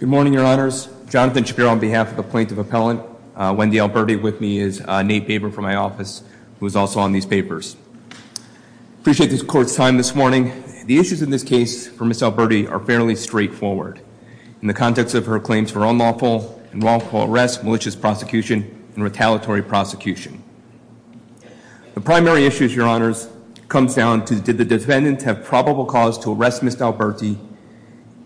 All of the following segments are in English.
Good morning, your honors. Jonathan Shapiro on behalf of the plaintiff appellant. Wendy Alberti with me is Nate Baber from my office, who is also on these papers. Appreciate the court's time this morning. The issues in this case for Ms. Alberti are fairly straightforward in the context of her claims for unlawful and wrongful arrest, malicious prosecution, and retaliatory prosecution. The primary issue, your honors, comes down to did the defendants have probable cause to arrest Ms. Alberti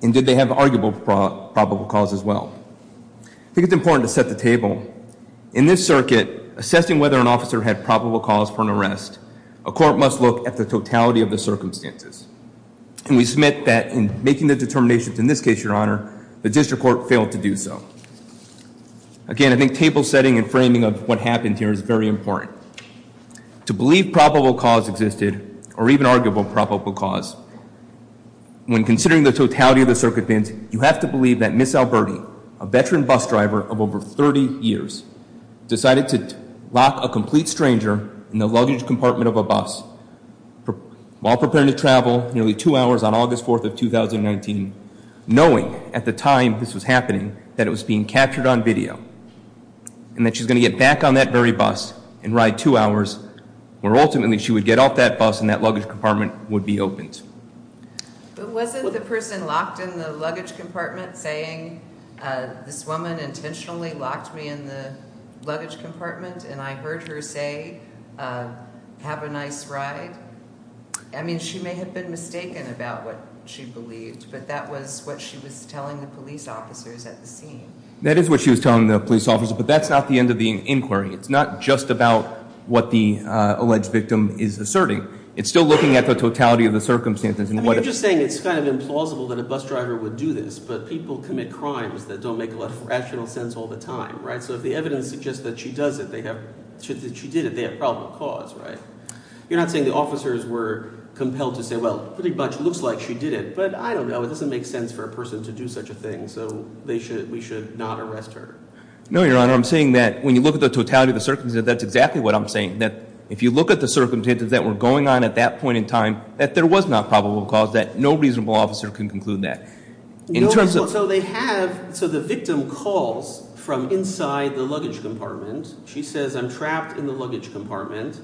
and did they have arguable probable cause as well? I think it's important to set the table. In this circuit, assessing whether an officer had probable cause for an arrest, a court must look at the totality of the circumstances. And we submit that in making the determinations in this case, your honor, the district court failed to do so. Again, I think table setting and framing of what happened here is very important. To believe probable cause existed, or even arguable probable cause, when considering the totality of the circuit, you have to believe that Ms. Alberti, a veteran bus driver of over 30 years, decided to lock a complete stranger in the luggage compartment of a bus while preparing to travel nearly two hours on August 4th of 2019, knowing at the time this was happening that it was being captured on video and that she was going to get back on that very bus and ride two hours, where ultimately she would get off that bus and that luggage compartment would be opened. But wasn't the person locked in the luggage compartment saying, this woman intentionally locked me in the luggage compartment and I heard her say, have a nice ride? I mean, she may have been mistaken about what she believed, but that was what she was telling the police officers at the scene. That is what she was telling the police officers, but that's not the end of the inquiry. It's not just about what the alleged victim is asserting. It's still looking at the totality of the circumstances. I mean, you're just saying it's kind of implausible that a bus driver would do this, but people commit crimes that don't make a lot of rational sense all the time, right? So if the evidence suggests that she does it, that she did it, they have probable cause, right? You're not saying the officers were compelled to say, well, pretty much it looks like she did it, but I don't know. It doesn't make sense for a person to do such a thing, so we should not arrest her. No, Your Honor. I'm saying that when you look at the totality of the circumstances, that's exactly what I'm saying, that if you look at the circumstances that were going on at that point in time, that there was not probable cause, that no reasonable officer can conclude that. So they have – so the victim calls from inside the luggage compartment. She says, I'm trapped in the luggage compartment.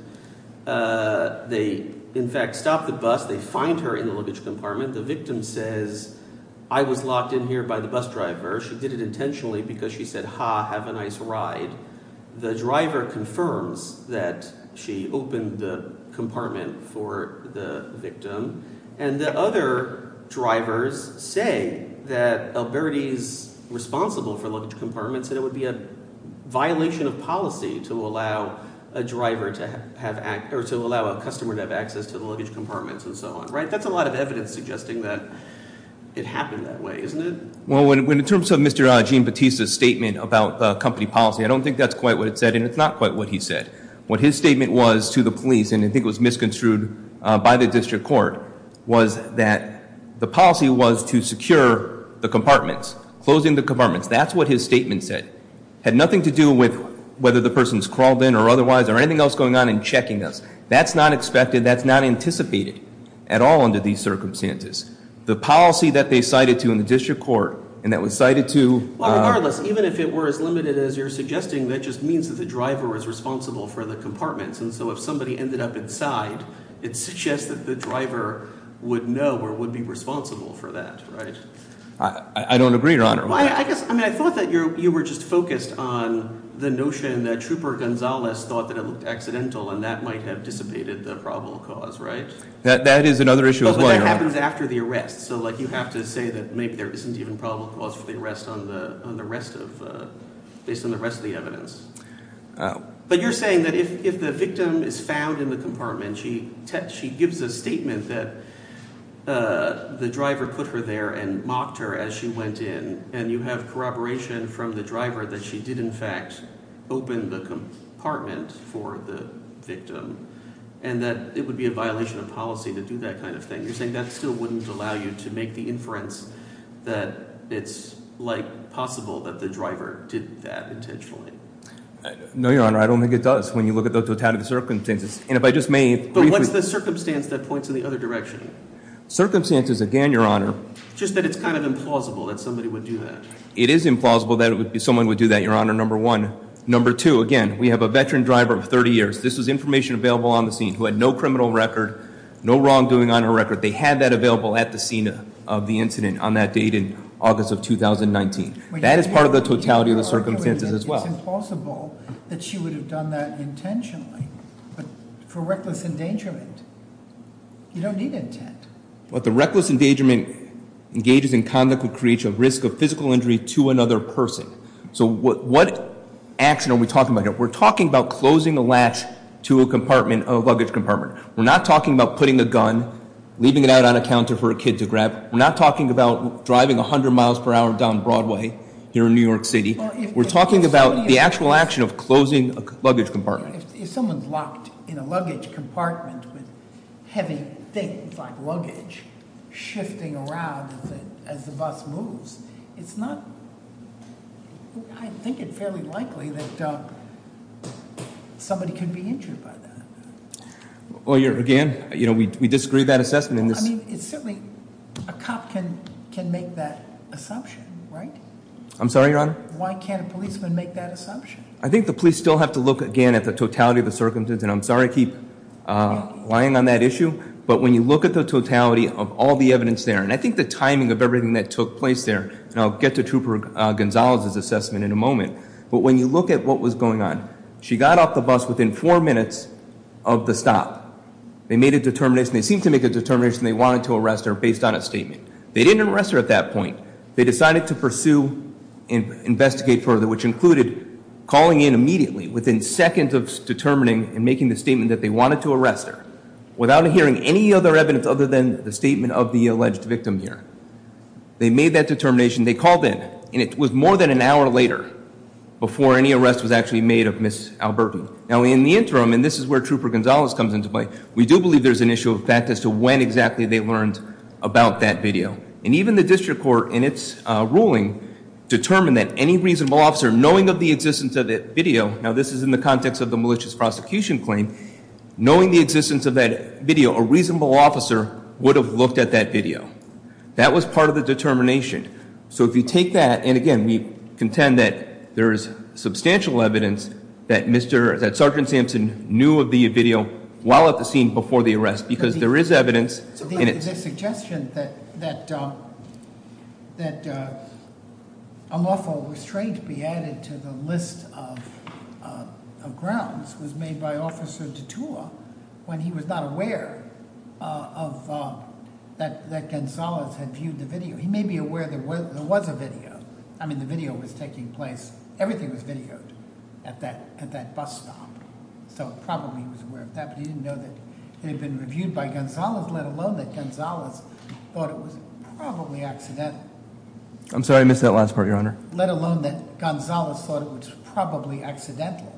They in fact stop the bus. They find her in the luggage compartment. The victim says, I was locked in here by the bus driver. She did it intentionally because she said, ha, have a nice ride. The driver confirms that she opened the compartment for the victim. And the other drivers say that Alberti is responsible for luggage compartments and it would be a violation of policy to allow a driver to have – or to allow a customer to have access to the luggage compartments and so on. That's a lot of evidence suggesting that it happened that way, isn't it? Well, in terms of Mr. Gene Bautista's statement about company policy, I don't think that's quite what it said, and it's not quite what he said. What his statement was to the police, and I think it was misconstrued by the district court, was that the policy was to secure the compartments, closing the compartments. That's what his statement said. It had nothing to do with whether the person's crawled in or otherwise or anything else going on in checking us. That's not expected. That's not anticipated at all under these circumstances. The policy that they cited to in the district court and that was cited to – And so if somebody ended up inside, it suggests that the driver would know or would be responsible for that, right? I don't agree, Your Honor. I guess – I mean I thought that you were just focused on the notion that Trooper Gonzalez thought that it looked accidental and that might have dissipated the probable cause, right? That is another issue as well, Your Honor. Oh, but that happens after the arrest. So like you have to say that maybe there isn't even probable cause for the arrest on the rest of – based on the rest of the evidence. But you're saying that if the victim is found in the compartment, she gives a statement that the driver put her there and mocked her as she went in and you have corroboration from the driver that she did in fact open the compartment for the victim and that it would be a violation of policy to do that kind of thing. You're saying that still wouldn't allow you to make the inference that it's like possible that the driver did that intentionally. No, Your Honor. I don't think it does when you look at the totality of the circumstances. And if I just may briefly – But what's the circumstance that points in the other direction? Circumstances, again, Your Honor – Just that it's kind of implausible that somebody would do that. It is implausible that someone would do that, Your Honor, number one. Number two, again, we have a veteran driver of 30 years. This was information available on the scene who had no criminal record, no wrongdoing on her record. They had that available at the scene of the incident on that date in August of 2019. That is part of the totality of the circumstances as well. It's implausible that she would have done that intentionally for reckless endangerment. You don't need intent. But the reckless endangerment engages in conduct that creates a risk of physical injury to another person. So what action are we talking about here? We're talking about closing a latch to a luggage compartment. We're not talking about putting a gun, leaving it out on a counter for a kid to grab. We're not talking about driving 100 miles per hour down Broadway here in New York City. We're talking about the actual action of closing a luggage compartment. If someone's locked in a luggage compartment with heavy things like luggage shifting around as the bus moves, it's not, I think it's fairly likely that somebody could be injured by that. Well, again, we disagree with that assessment. Well, I mean, certainly a cop can make that assumption, right? I'm sorry, Your Honor? Why can't a policeman make that assumption? I think the police still have to look again at the totality of the circumstances. And I'm sorry I keep lying on that issue. But when you look at the totality of all the evidence there, and I think the timing of everything that took place there, and I'll get to Trooper Gonzales' assessment in a moment. But when you look at what was going on, she got off the bus within four minutes of the stop. They made a determination. They seemed to make a determination they wanted to arrest her based on a statement. They didn't arrest her at that point. They decided to pursue and investigate further, which included calling in immediately, within seconds of determining and making the statement that they wanted to arrest her, without hearing any other evidence other than the statement of the alleged victim here. They made that determination. They called in, and it was more than an hour later before any arrest was actually made of Ms. Alberton. Now in the interim, and this is where Trooper Gonzales comes into play, we do believe there's an issue of fact as to when exactly they learned about that video. And even the district court in its ruling determined that any reasonable officer, knowing of the existence of that video, now this is in the context of the malicious prosecution claim, knowing the existence of that video, a reasonable officer would have looked at that video. That was part of the determination. So if you take that, and again, we contend that there is substantial evidence that Sergeant Sampson knew of the video while at the scene before the arrest. Because there is evidence. And it's- The suggestion that unlawful restraint be added to the list of grounds was made by Officer Detour when he was not aware that Gonzales had viewed the video. He may be aware there was a video. I mean, the video was taking place. Everything was videoed at that bus stop. So probably he was aware of that, but he didn't know that it had been reviewed by Gonzales, let alone that Gonzales thought it was probably accidental. I'm sorry, I missed that last part, Your Honor. Let alone that Gonzales thought it was probably accidental.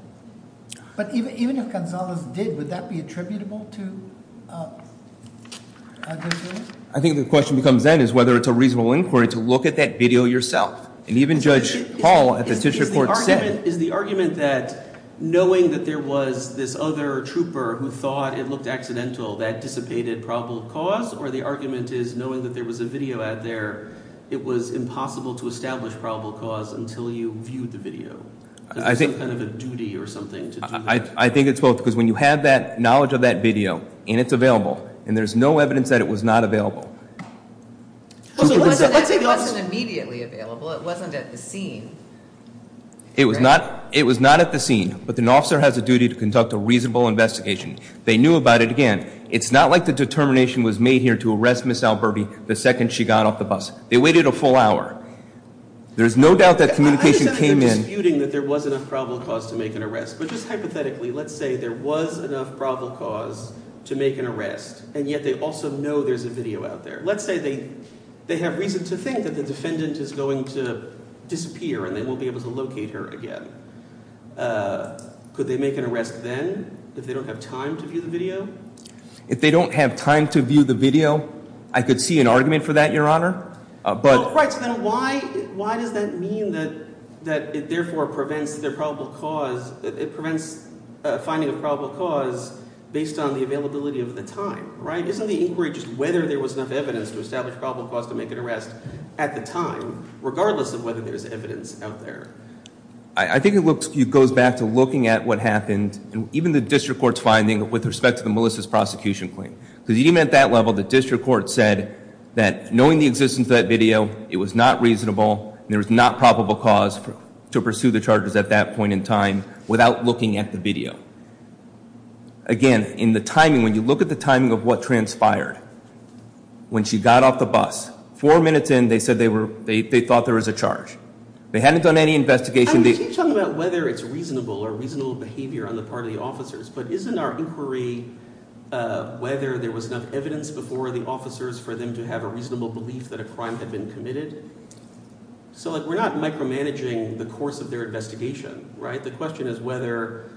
But even if Gonzales did, would that be attributable to a video? I think the question becomes then is whether it's a reasonable inquiry to look at that video yourself. And even Judge Hall at the district court said- Is the argument that knowing that there was this other trooper who thought it looked accidental that dissipated probable cause? Or the argument is knowing that there was a video out there, it was impossible to establish probable cause until you viewed the video? Because there's some kind of a duty or something to do that. I think it's both. Because when you have that knowledge of that video, and it's available, and there's no evidence that it was not available. It wasn't immediately available. It wasn't at the scene. It was not at the scene. But an officer has a duty to conduct a reasonable investigation. They knew about it again. It's not like the determination was made here to arrest Ms. Alburby the second she got off the bus. They waited a full hour. There's no doubt that communication came in- I understand that you're disputing that there was enough probable cause to make an arrest. But just hypothetically, let's say there was enough probable cause to make an arrest, and yet they also know there's a video out there. Let's say they have reason to think that the defendant is going to disappear and they won't be able to locate her again. Could they make an arrest then if they don't have time to view the video? If they don't have time to view the video, I could see an argument for that, Your Honor. Right, so then why does that mean that it therefore prevents finding a probable cause based on the availability of the time? Isn't the inquiry just whether there was enough evidence to establish probable cause to make an arrest at the time, regardless of whether there's evidence out there? I think it goes back to looking at what happened, even the district court's finding with respect to the Melissa's prosecution claim. Because even at that level, the district court said that knowing the existence of that video, it was not reasonable and there was not probable cause to pursue the charges at that point in time without looking at the video. Again, in the timing, when you look at the timing of what transpired, when she got off the bus, four minutes in, they said they thought there was a charge. They hadn't done any investigation. Are you talking about whether it's reasonable or reasonable behavior on the part of the officers? But isn't our inquiry whether there was enough evidence before the officers for them to have a reasonable belief that a crime had been committed? So we're not micromanaging the course of their investigation. The question is whether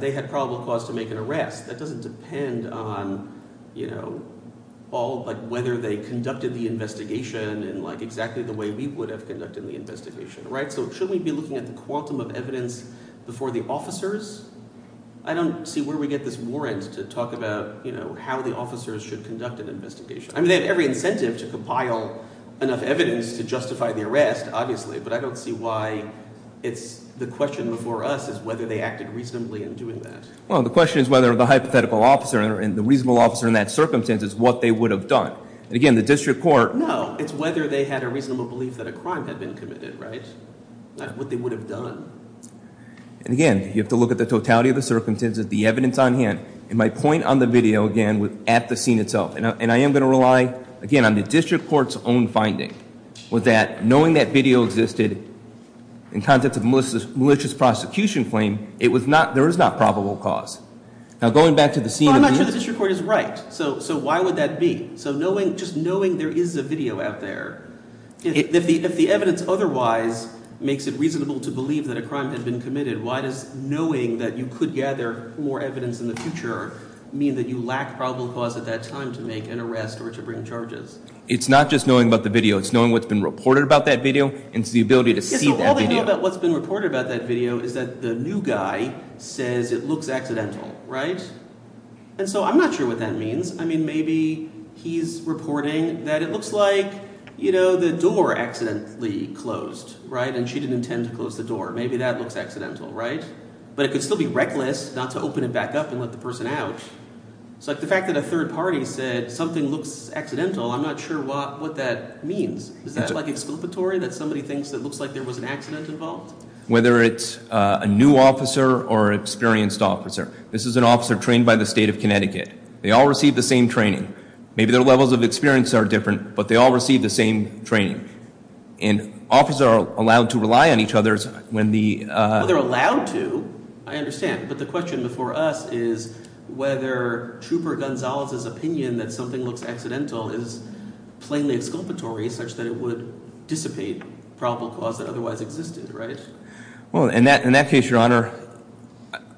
they had probable cause to make an arrest. That doesn't depend on whether they conducted the investigation in exactly the way we would have conducted the investigation. So shouldn't we be looking at the quantum of evidence before the officers? I don't see where we get this warrant to talk about how the officers should conduct an investigation. I mean, they have every incentive to compile enough evidence to justify the arrest, obviously, but I don't see why it's the question before us is whether they acted reasonably in doing that. Well, the question is whether the hypothetical officer and the reasonable officer in that circumstance is what they would have done. And again, the district court— No, it's whether they had a reasonable belief that a crime had been committed, right? Not what they would have done. And again, you have to look at the totality of the circumstances, the evidence on hand. And my point on the video, again, was at the scene itself. And I am going to rely, again, on the district court's own finding, was that knowing that video existed in context of a malicious prosecution claim, there is not probable cause. Now, going back to the scene of the— Well, I'm not sure the district court is right, so why would that be? So just knowing there is a video out there, if the evidence otherwise makes it reasonable to believe that a crime had been committed, why does knowing that you could gather more evidence in the future mean that you lack probable cause at that time to make an arrest or to bring charges? It's not just knowing about the video. It's knowing what's been reported about that video and the ability to see that video. Yeah, so all they know about what's been reported about that video is that the new guy says it looks accidental, right? And so I'm not sure what that means. I mean, maybe he's reporting that it looks like, you know, the door accidentally closed, right? And she didn't intend to close the door. Maybe that looks accidental, right? But it could still be reckless not to open it back up and let the person out. So the fact that a third party said something looks accidental, I'm not sure what that means. Is that, like, explanatory, that somebody thinks that it looks like there was an accident involved? Whether it's a new officer or an experienced officer, this is an officer trained by the state of Connecticut. They all receive the same training. Maybe their levels of experience are different, but they all receive the same training. And officers are allowed to rely on each other when the— Well, they're allowed to, I understand. But the question before us is whether Trooper Gonzalez's opinion that something looks accidental is plainly exculpatory such that it would dissipate probable cause that otherwise existed, right? Well, in that case, Your Honor,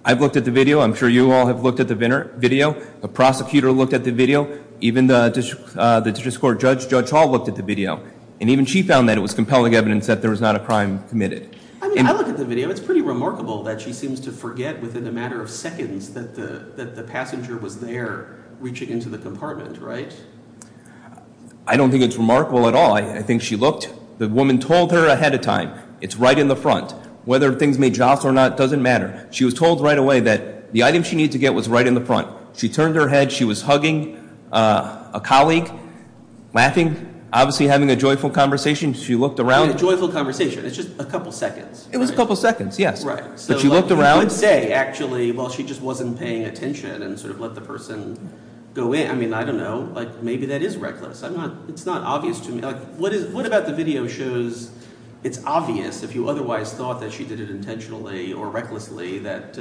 I've looked at the video. I'm sure you all have looked at the video. The prosecutor looked at the video. Even the district court judge, Judge Hall, looked at the video. And even she found that it was compelling evidence that there was not a crime committed. I mean, I look at the video. It's pretty remarkable that she seems to forget within a matter of seconds that the passenger was there reaching into the compartment, right? I don't think it's remarkable at all. I think she looked. The woman told her ahead of time. It's right in the front. Whether things may jostle or not doesn't matter. She was told right away that the item she needed to get was right in the front. She turned her head. She was hugging a colleague, laughing, obviously having a joyful conversation. She looked around. A joyful conversation. It's just a couple seconds. It was a couple seconds, yes. Right. But she looked around. You would say, actually, well, she just wasn't paying attention and sort of let the person go in. I mean, I don't know. Maybe that is reckless. It's not obvious to me. What about the video shows it's obvious, if you otherwise thought that she did it intentionally or recklessly, that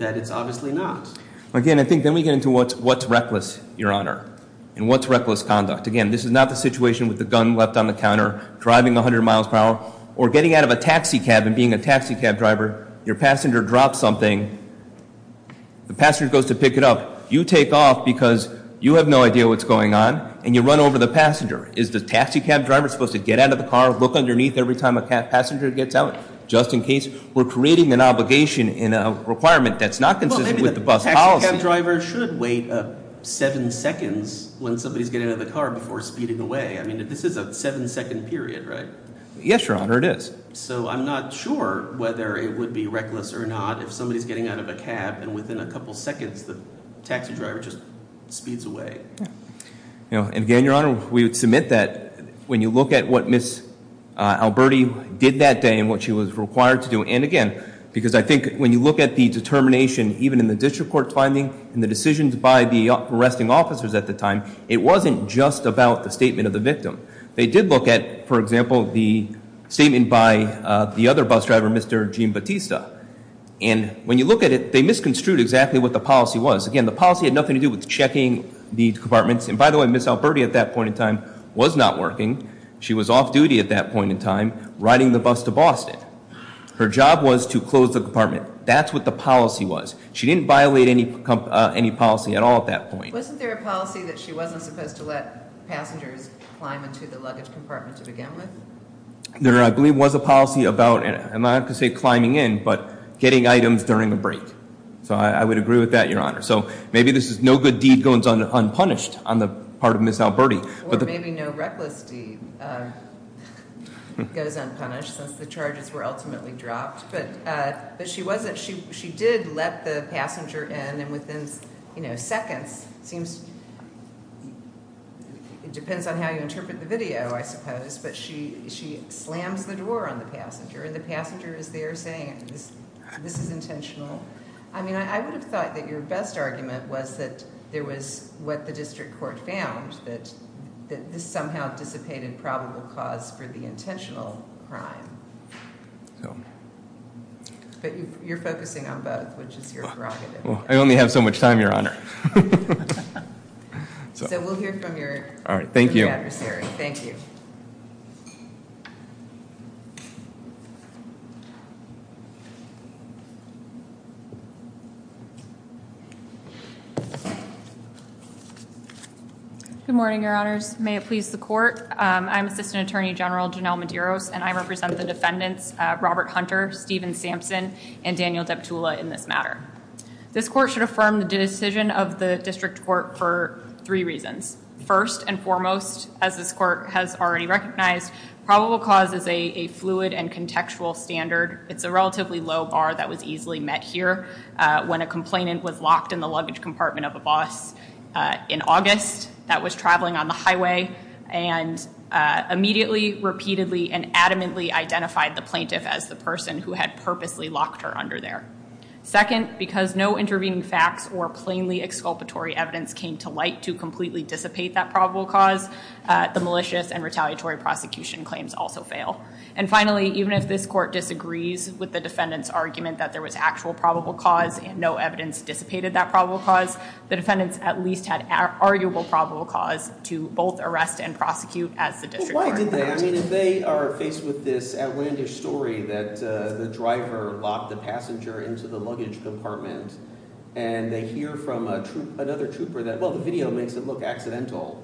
it's obviously not? Again, I think then we get into what's reckless, Your Honor, and what's reckless conduct. Again, this is not the situation with the gun left on the counter driving 100 miles per hour or getting out of a taxi cab and being a taxi cab driver. Your passenger drops something. The passenger goes to pick it up. You take off because you have no idea what's going on, and you run over the passenger. Is the taxi cab driver supposed to get out of the car, look underneath every time a passenger gets out, just in case we're creating an obligation in a requirement that's not consistent with the bus policy? Well, maybe the taxi cab driver should wait seven seconds when somebody's getting out of the car before speeding away. I mean, this is a seven-second period, right? Yes, Your Honor, it is. So I'm not sure whether it would be reckless or not if somebody's getting out of a cab, and within a couple seconds the taxi driver just speeds away. And again, Your Honor, we would submit that when you look at what Ms. Alberti did that day and what she was required to do, and again, because I think when you look at the determination, even in the district court finding and the decisions by the arresting officers at the time, it wasn't just about the statement of the victim. They did look at, for example, the statement by the other bus driver, Mr. Gene Batista, and when you look at it, they misconstrued exactly what the policy was. Again, the policy had nothing to do with checking the compartments. And by the way, Ms. Alberti at that point in time was not working. She was off duty at that point in time, riding the bus to Boston. Her job was to close the compartment. That's what the policy was. She didn't violate any policy at all at that point. Wasn't there a policy that she wasn't supposed to let passengers climb into the luggage compartment to begin with? There, I believe, was a policy about, and I'm not going to say climbing in, but getting items during a break. So I would agree with that, Your Honor. So maybe this is no good deed goes unpunished on the part of Ms. Alberti. Or maybe no reckless deed goes unpunished since the charges were ultimately dropped. But she did let the passenger in, and within seconds, it depends on how you interpret the video, I suppose, but she slams the door on the passenger, and the passenger is there saying, this is intentional. I mean, I would have thought that your best argument was that there was what the district court found, that this somehow dissipated probable cause for the intentional crime. But you're focusing on both, which is your prerogative. I only have so much time, Your Honor. So we'll hear from your adversary. Thank you. Good morning, Your Honors. May it please the court. I'm Assistant Attorney General Janelle Medeiros, and I represent the defendants Robert Hunter, Stephen Sampson, and Daniel Deptula in this matter. This court should affirm the decision of the district court for three reasons. First and foremost, as this court has already recognized, probable cause is a fluid and contextual standard. It's a relatively low bar that was easily met here when a complainant was locked in the luggage compartment of a boss in August that was traveling on the highway and immediately, repeatedly, and adamantly identified the plaintiff as the person who had purposely locked her under there. Second, because no intervening facts or plainly exculpatory evidence came to light to completely dissipate that probable cause, the malicious and retaliatory prosecution claims also fail. And finally, even if this court disagrees with the defendant's argument that there was actual probable cause and no evidence dissipated that probable cause, the defendants at least had arguable probable cause to both arrest and prosecute as the district court. If they are faced with this outlandish story that the driver locked the passenger into the luggage compartment and they hear from another trooper that, well, the video makes it look accidental,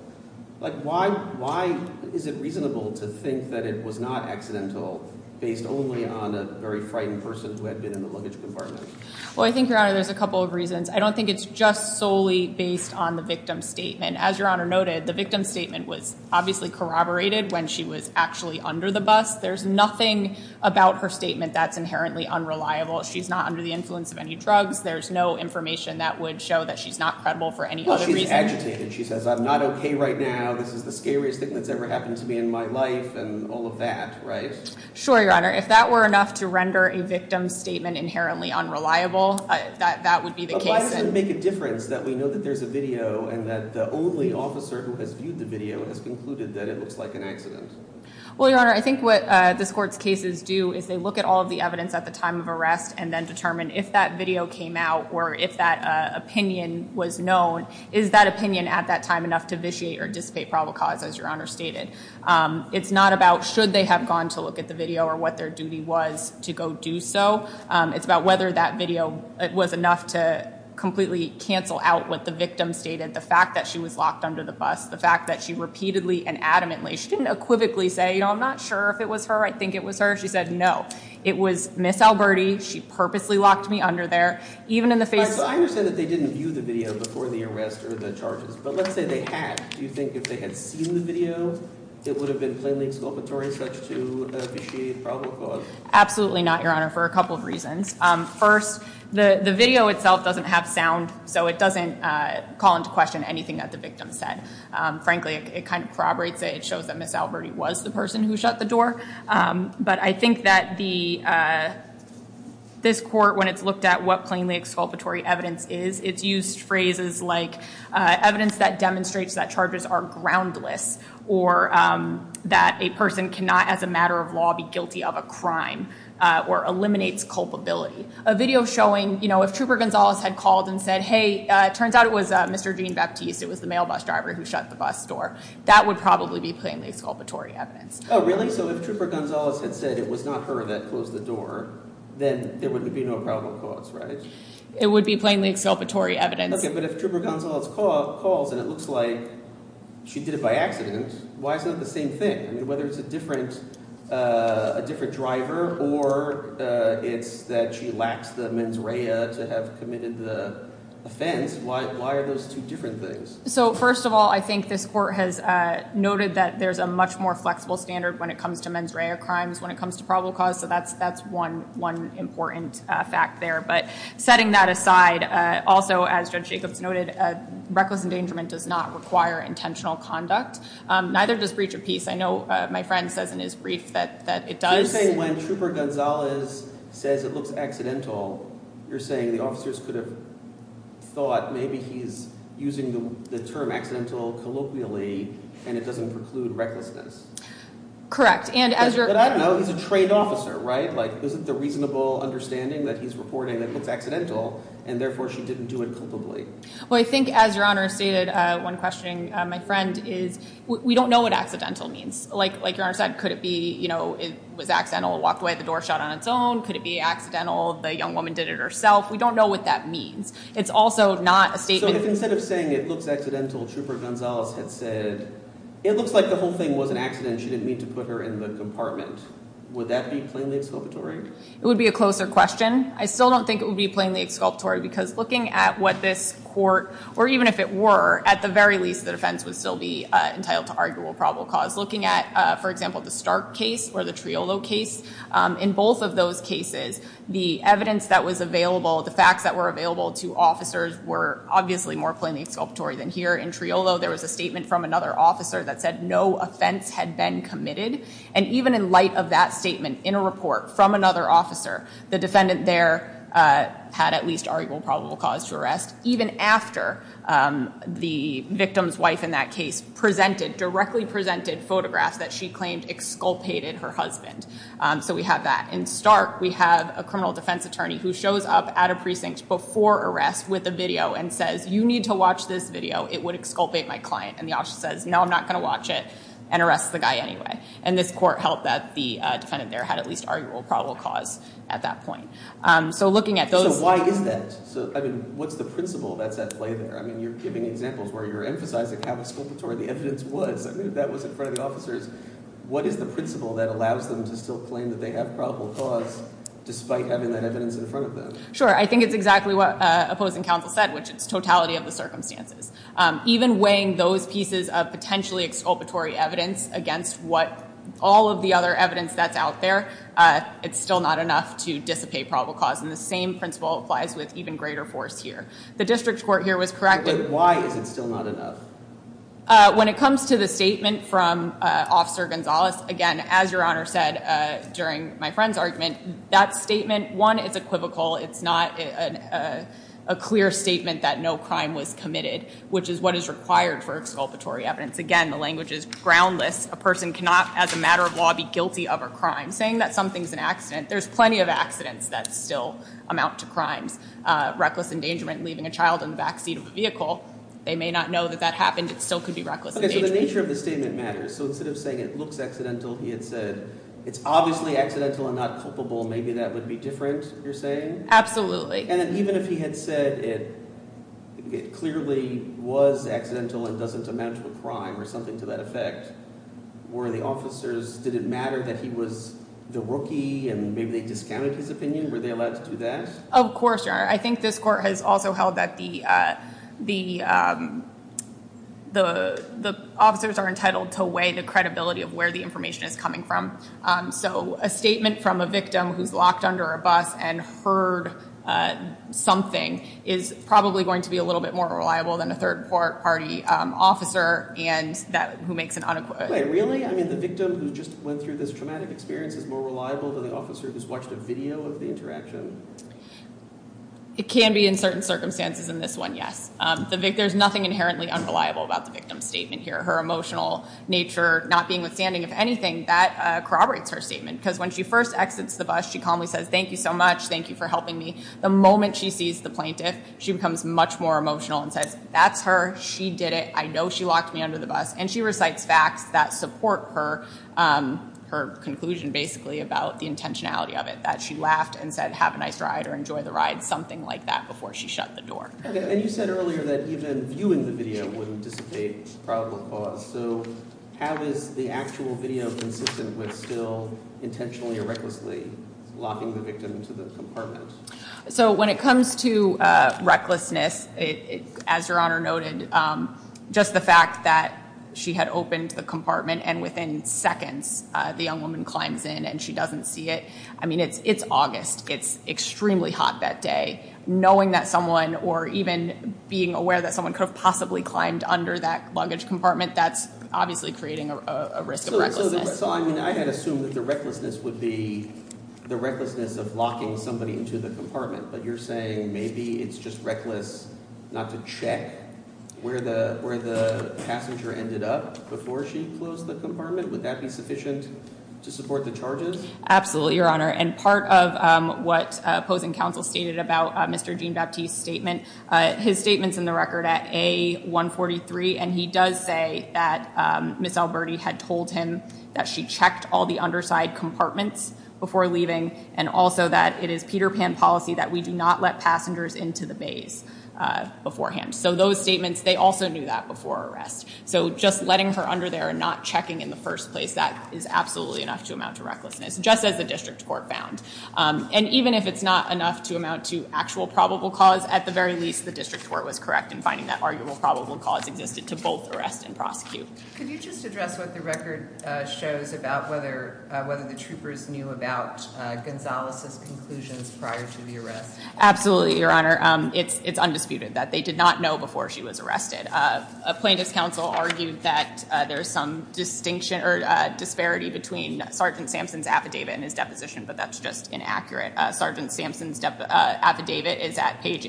why is it reasonable to think that it was not accidental based only on a very frightened person who had been in the luggage compartment? Well, I think, Your Honor, there's a couple of reasons. I don't think it's just solely based on the victim's statement. As Your Honor noted, the victim's statement was obviously corroborated when she was actually under the bus. There's nothing about her statement that's inherently unreliable. She's not under the influence of any drugs. There's no information that would show that she's not credible for any other reason. Well, she's agitated. She says, I'm not OK right now. This is the scariest thing that's ever happened to me in my life and all of that, right? Sure, Your Honor. If that were enough to render a victim's statement inherently unreliable, that would be the case. Why does it make a difference that we know that there's a video and that the only officer who has viewed the video has concluded that it looks like an accident? Well, Your Honor, I think what this court's cases do is they look at all of the evidence at the time of arrest and then determine if that video came out or if that opinion was known. Is that opinion at that time enough to vitiate or dissipate probable cause, as Your Honor stated? It's not about should they have gone to look at the video or what their duty was to go do so. It's about whether that video was enough to completely cancel out what the victim stated, the fact that she was locked under the bus, the fact that she repeatedly and adamantly, she didn't equivocally say, you know, I'm not sure if it was her. I think it was her. She said, no, it was Miss Alberti. She purposely locked me under there. Even in the face of I understand that they didn't view the video before the arrest or the charges, but let's say they had. Do you think if they had seen the video, it would have been plainly exculpatory such to vitiate probable cause? Absolutely not, Your Honor, for a couple of reasons. First, the video itself doesn't have sound, so it doesn't call into question anything that the victim said. Frankly, it kind of corroborates it. It shows that Miss Alberti was the person who shut the door. But I think that this court, when it's looked at what plainly exculpatory evidence is, it's used phrases like evidence that demonstrates that charges are groundless or that a person cannot, as a matter of law, be guilty of a crime or eliminates culpability. A video showing, you know, if Trooper Gonzalez had called and said, hey, it turns out it was Mr. Gene Baptiste. It was the mail bus driver who shut the bus door. That would probably be plainly exculpatory evidence. Oh, really? So if Trooper Gonzalez had said it was not her that closed the door, then there would be no probable cause, right? It would be plainly exculpatory evidence. Okay, but if Trooper Gonzalez calls and it looks like she did it by accident, why is it not the same thing? I mean, whether it's a different driver or it's that she lacks the mens rea to have committed the offense, why are those two different things? So first of all, I think this court has noted that there's a much more flexible standard when it comes to mens rea crimes, when it comes to probable cause, so that's one important fact there. But setting that aside, also, as Judge Jacobs noted, reckless endangerment does not require intentional conduct. Neither does breach of peace. I know my friend says in his brief that it does. So you're saying when Trooper Gonzalez says it looks accidental, you're saying the officers could have thought maybe he's using the term accidental colloquially and it doesn't preclude recklessness. Correct. And as your... But I don't know. He's a trained officer, right? Isn't the reasonable understanding that he's reporting that it looks accidental and, therefore, she didn't do it culpably? Well, I think as Your Honor stated, one question, my friend, is we don't know what accidental means. Like Your Honor said, could it be, you know, it was accidental, walked away, the door shut on its own? Could it be accidental, the young woman did it herself? We don't know what that means. It's also not a statement... So if instead of saying it looks accidental, Trooper Gonzalez had said it looks like the whole thing was an accident and she didn't mean to put her in the compartment, would that be plainly exculpatory? It would be a closer question. I still don't think it would be plainly exculpatory because looking at what this court, or even if it were, at the very least, the defense would still be entitled to argue a probable cause. Looking at, for example, the Stark case or the Triolo case, in both of those cases, the evidence that was available, the facts that were available to officers were obviously more plainly exculpatory than here. In Triolo, there was a statement from another officer that said no offense had been committed. And even in light of that statement, in a report from another officer, the defendant there had at least argued a probable cause to arrest, even after the victim's wife in that case presented, directly presented, photographs that she claimed exculpated her husband. So we have that. In Stark, we have a criminal defense attorney who shows up at a precinct before arrest with a video and says, you need to watch this video, it would exculpate my client. And the officer says, no, I'm not going to watch it, and arrests the guy anyway. And this court held that the defendant there had at least argued a probable cause at that point. So looking at those- So why is that? I mean, what's the principle that's at play there? I mean, you're giving examples where you're emphasizing how exculpatory the evidence was. I mean, if that was in front of the officers, what is the principle that allows them to still claim that they have probable cause, despite having that evidence in front of them? Sure, I think it's exactly what opposing counsel said, which is totality of the circumstances. Even weighing those pieces of potentially exculpatory evidence against all of the other evidence that's out there, it's still not enough to dissipate probable cause. And the same principle applies with even greater force here. The district court here was correct in- But why is it still not enough? When it comes to the statement from Officer Gonzalez, again, as Your Honor said during my friend's argument, that statement, one, it's equivocal. It's not a clear statement that no crime was committed, which is what is required for exculpatory evidence. Again, the language is groundless. A person cannot, as a matter of law, be guilty of a crime. Saying that something's an accident, there's plenty of accidents that still amount to crimes. Reckless endangerment, leaving a child in the backseat of a vehicle, they may not know that that happened. It still could be reckless endangerment. Okay, so the nature of the statement matters. So instead of saying it looks accidental, he had said it's obviously accidental and not culpable. Maybe that would be different, you're saying? And then even if he had said it clearly was accidental and doesn't amount to a crime or something to that effect, were the officers, did it matter that he was the rookie and maybe they discounted his opinion? Were they allowed to do that? Of course, Your Honor. I think this court has also held that the officers are entitled to weigh the credibility of where the information is coming from. So a statement from a victim who's locked under a bus and heard something is probably going to be a little bit more reliable than a third-party officer who makes an unequivocal statement. Wait, really? I mean, the victim who just went through this traumatic experience is more reliable than the officer who's watched a video of the interaction? It can be in certain circumstances in this one, yes. There's nothing inherently unreliable about the victim's statement here. Her emotional nature not being withstanding of anything, that corroborates her statement. Because when she first exits the bus, she calmly says, thank you so much, thank you for helping me. The moment she sees the plaintiff, she becomes much more emotional and says, that's her, she did it, I know she locked me under the bus. And she recites facts that support her conclusion, basically, about the intentionality of it, that she laughed and said, have a nice ride or enjoy the ride, something like that, before she shut the door. And you said earlier that even viewing the video wouldn't dissipate probable cause. So how is the actual video consistent with still intentionally or recklessly locking the victim into the compartment? So when it comes to recklessness, as Your Honor noted, just the fact that she had opened the compartment and within seconds the young woman climbs in and she doesn't see it, I mean, it's August, it's extremely hot that day. Knowing that someone, or even being aware that someone could have possibly climbed under that luggage compartment, that's obviously creating a risk of recklessness. So, I mean, I had assumed that the recklessness would be the recklessness of locking somebody into the compartment. But you're saying maybe it's just reckless not to check where the passenger ended up before she closed the compartment? Would that be sufficient to support the charges? Absolutely, Your Honor. And part of what opposing counsel stated about Mr. Jean-Baptiste's statement, his statement's in the record at A143, and he does say that Ms. Alberti had told him that she checked all the underside compartments before leaving, and also that it is Peter Pan policy that we do not let passengers into the bays beforehand. So those statements, they also knew that before arrest. So just letting her under there and not checking in the first place, that is absolutely enough to amount to recklessness, just as the district court found. And even if it's not enough to amount to actual probable cause at the very least the district court was correct in finding that arguable probable cause existed to both arrest and prosecute. Could you just address what the record shows about whether the troopers knew about Gonzales' conclusions prior to the arrest? Absolutely, Your Honor. It's undisputed that they did not know before she was arrested. A plaintiff's counsel argued that there's some distinction or disparity between Sergeant Sampson's affidavit and his deposition, but that's just inaccurate. Sergeant Sampson's affidavit is at page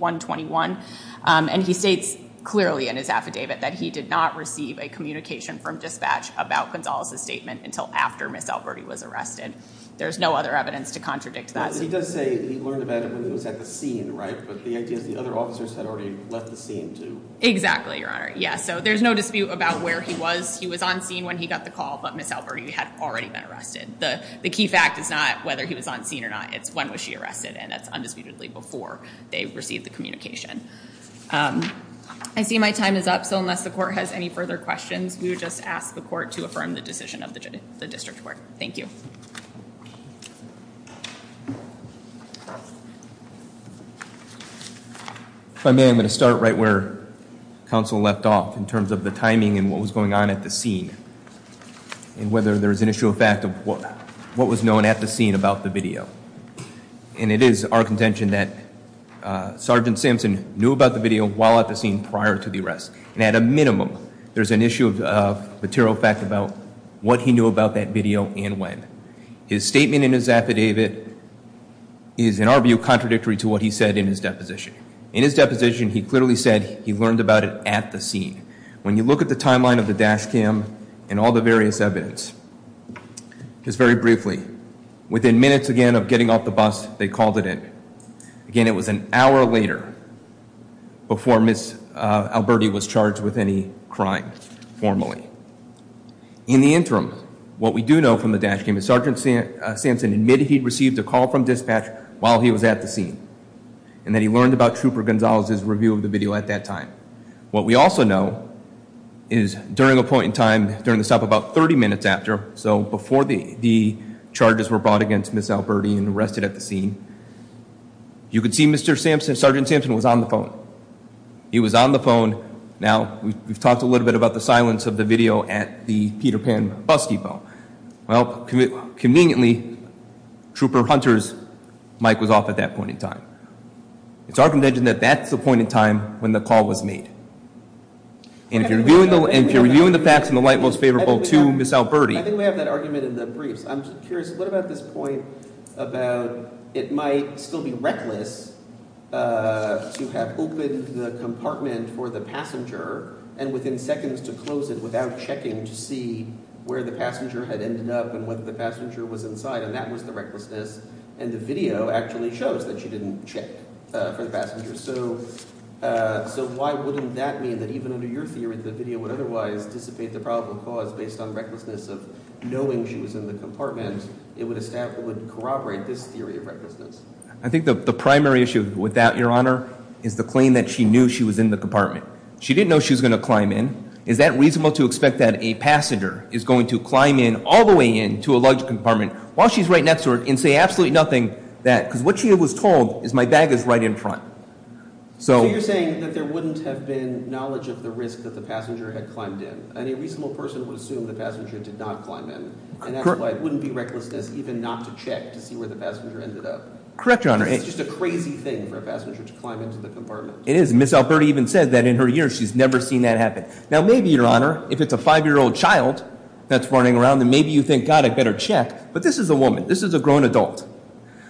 8-121, and he states clearly in his affidavit that he did not receive a communication from dispatch about Gonzales' statement until after Ms. Alberti was arrested. There's no other evidence to contradict that. He does say he learned about it when he was at the scene, right? But the idea is the other officers had already left the scene, too. Exactly, Your Honor. Yes, so there's no dispute about where he was. He was on scene when he got the call, but Ms. Alberti had already been arrested. The key fact is not whether he was on scene or not, it's when was she arrested, and that's undisputedly before they received the communication. I see my time is up, so unless the court has any further questions, we would just ask the court to affirm the decision of the district court. Thank you. If I may, I'm going to start right where counsel left off in terms of the timing and what was going on at the scene and whether there's an issue of fact of what was known at the scene about the video. And it is our contention that Sergeant Sampson knew about the video while at the scene prior to the arrest. And at a minimum, there's an issue of material fact about what he knew about that video and when. His statement in his affidavit is, in our view, contradictory to what he said in his deposition. In his deposition, he clearly said he learned about it at the scene. When you look at the timeline of the dash cam and all the various evidence, just very briefly, within minutes again of getting off the bus, they called it in. Again, it was an hour later before Ms. Alberti was charged with any crime formally. In the interim, what we do know from the dash cam is Sergeant Sampson admitted he'd received a call from dispatch while he was at the scene and that he learned about Trooper Gonzalez's review of the video at that time. What we also know is during a point in time, during the stop about 30 minutes after, so before the charges were brought against Ms. Alberti and arrested at the scene, you could see Sergeant Sampson was on the phone. He was on the phone. Now, we've talked a little bit about the silence of the video at the Peter Pan bus depot. Well, conveniently, Trooper Hunter's mic was off at that point in time. It's our contention that that's the point in time when the call was made. And if you're reviewing the facts in the light most favorable to Ms. Alberti. I think we have that argument in the briefs. I'm just curious, what about this point about it might still be reckless to have opened the compartment for the passenger and within seconds to close it without checking to see where the passenger had ended up and whether the passenger was inside, and that was the recklessness, and the video actually shows that she didn't check for the passenger. So why wouldn't that mean that even under your theory the video would otherwise dissipate the probable cause based on recklessness of knowing she was in the compartment? It would corroborate this theory of recklessness. I think the primary issue with that, Your Honor, is the claim that she knew she was in the compartment. She didn't know she was going to climb in. Is that reasonable to expect that a passenger is going to climb in all the way in to a large compartment while she's right next to her and say absolutely nothing, because what she was told is my bag is right in front. So you're saying that there wouldn't have been knowledge of the risk that the passenger had climbed in, and a reasonable person would assume the passenger did not climb in, and that's why it wouldn't be recklessness even not to check to see where the passenger ended up. Correct, Your Honor. It's just a crazy thing for a passenger to climb into the compartment. It is, and Ms. Alberti even said that in her years she's never seen that happen. Now maybe, Your Honor, if it's a 5-year-old child that's running around, then maybe you think, God, I'd better check, but this is a woman. This is a grown adult.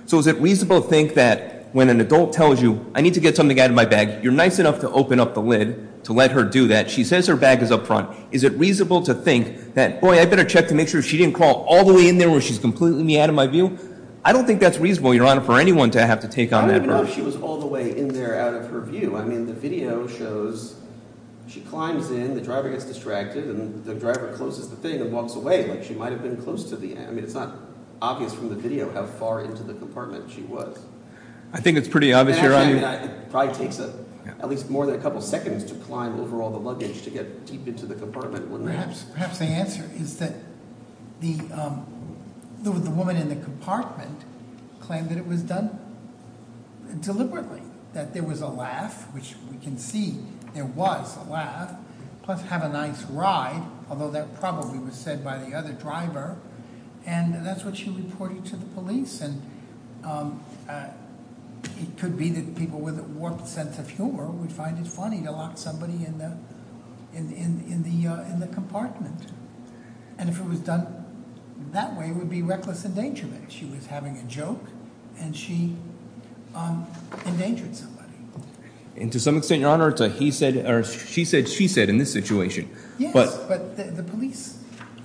So is it reasonable to think that when an adult tells you, I need to get something out of my bag, you're nice enough to open up the lid to let her do that. She says her bag is up front. Is it reasonable to think that, boy, I'd better check to make sure she didn't crawl all the way in there where she's completely out of my view? I don't think that's reasonable, Your Honor, for anyone to have to take on that. I don't even know if she was all the way in there out of her view. I mean, the video shows she climbs in, the driver gets distracted, and the driver closes the thing and walks away like she might have been close to the end. I mean, it's not obvious from the video how far into the compartment she was. I think it's pretty obvious, Your Honor. It probably takes at least more than a couple seconds to climb over all the luggage to get deep into the compartment, wouldn't it? Perhaps the answer is that the woman in the compartment claimed that it was done deliberately, that there was a laugh, which we can see there was a laugh, plus have a nice ride, although that probably was said by the other driver, and that's what she reported to the police. And it could be that people with a warped sense of humor would find it funny to lock somebody in the compartment. And if it was done that way, it would be reckless endangerment. She was having a joke, and she endangered somebody. And to some extent, Your Honor, it's a he said or she said, she said in this situation. Yes, but the police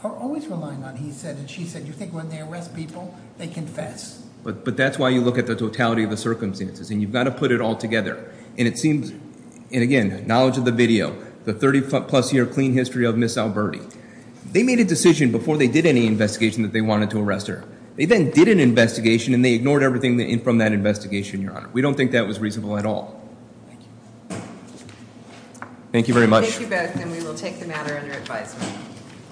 are always relying on he said and she said. You think when they arrest people, they confess? But that's why you look at the totality of the circumstances, and you've got to put it all together. And it seems, and again, knowledge of the video, the 30-plus year clean history of Ms. Alberti. They made a decision before they did any investigation that they wanted to arrest her. They then did an investigation, and they ignored everything from that investigation, Your Honor. We don't think that was reasonable at all. Thank you very much. Thank you both, and we will take the matter under advisement.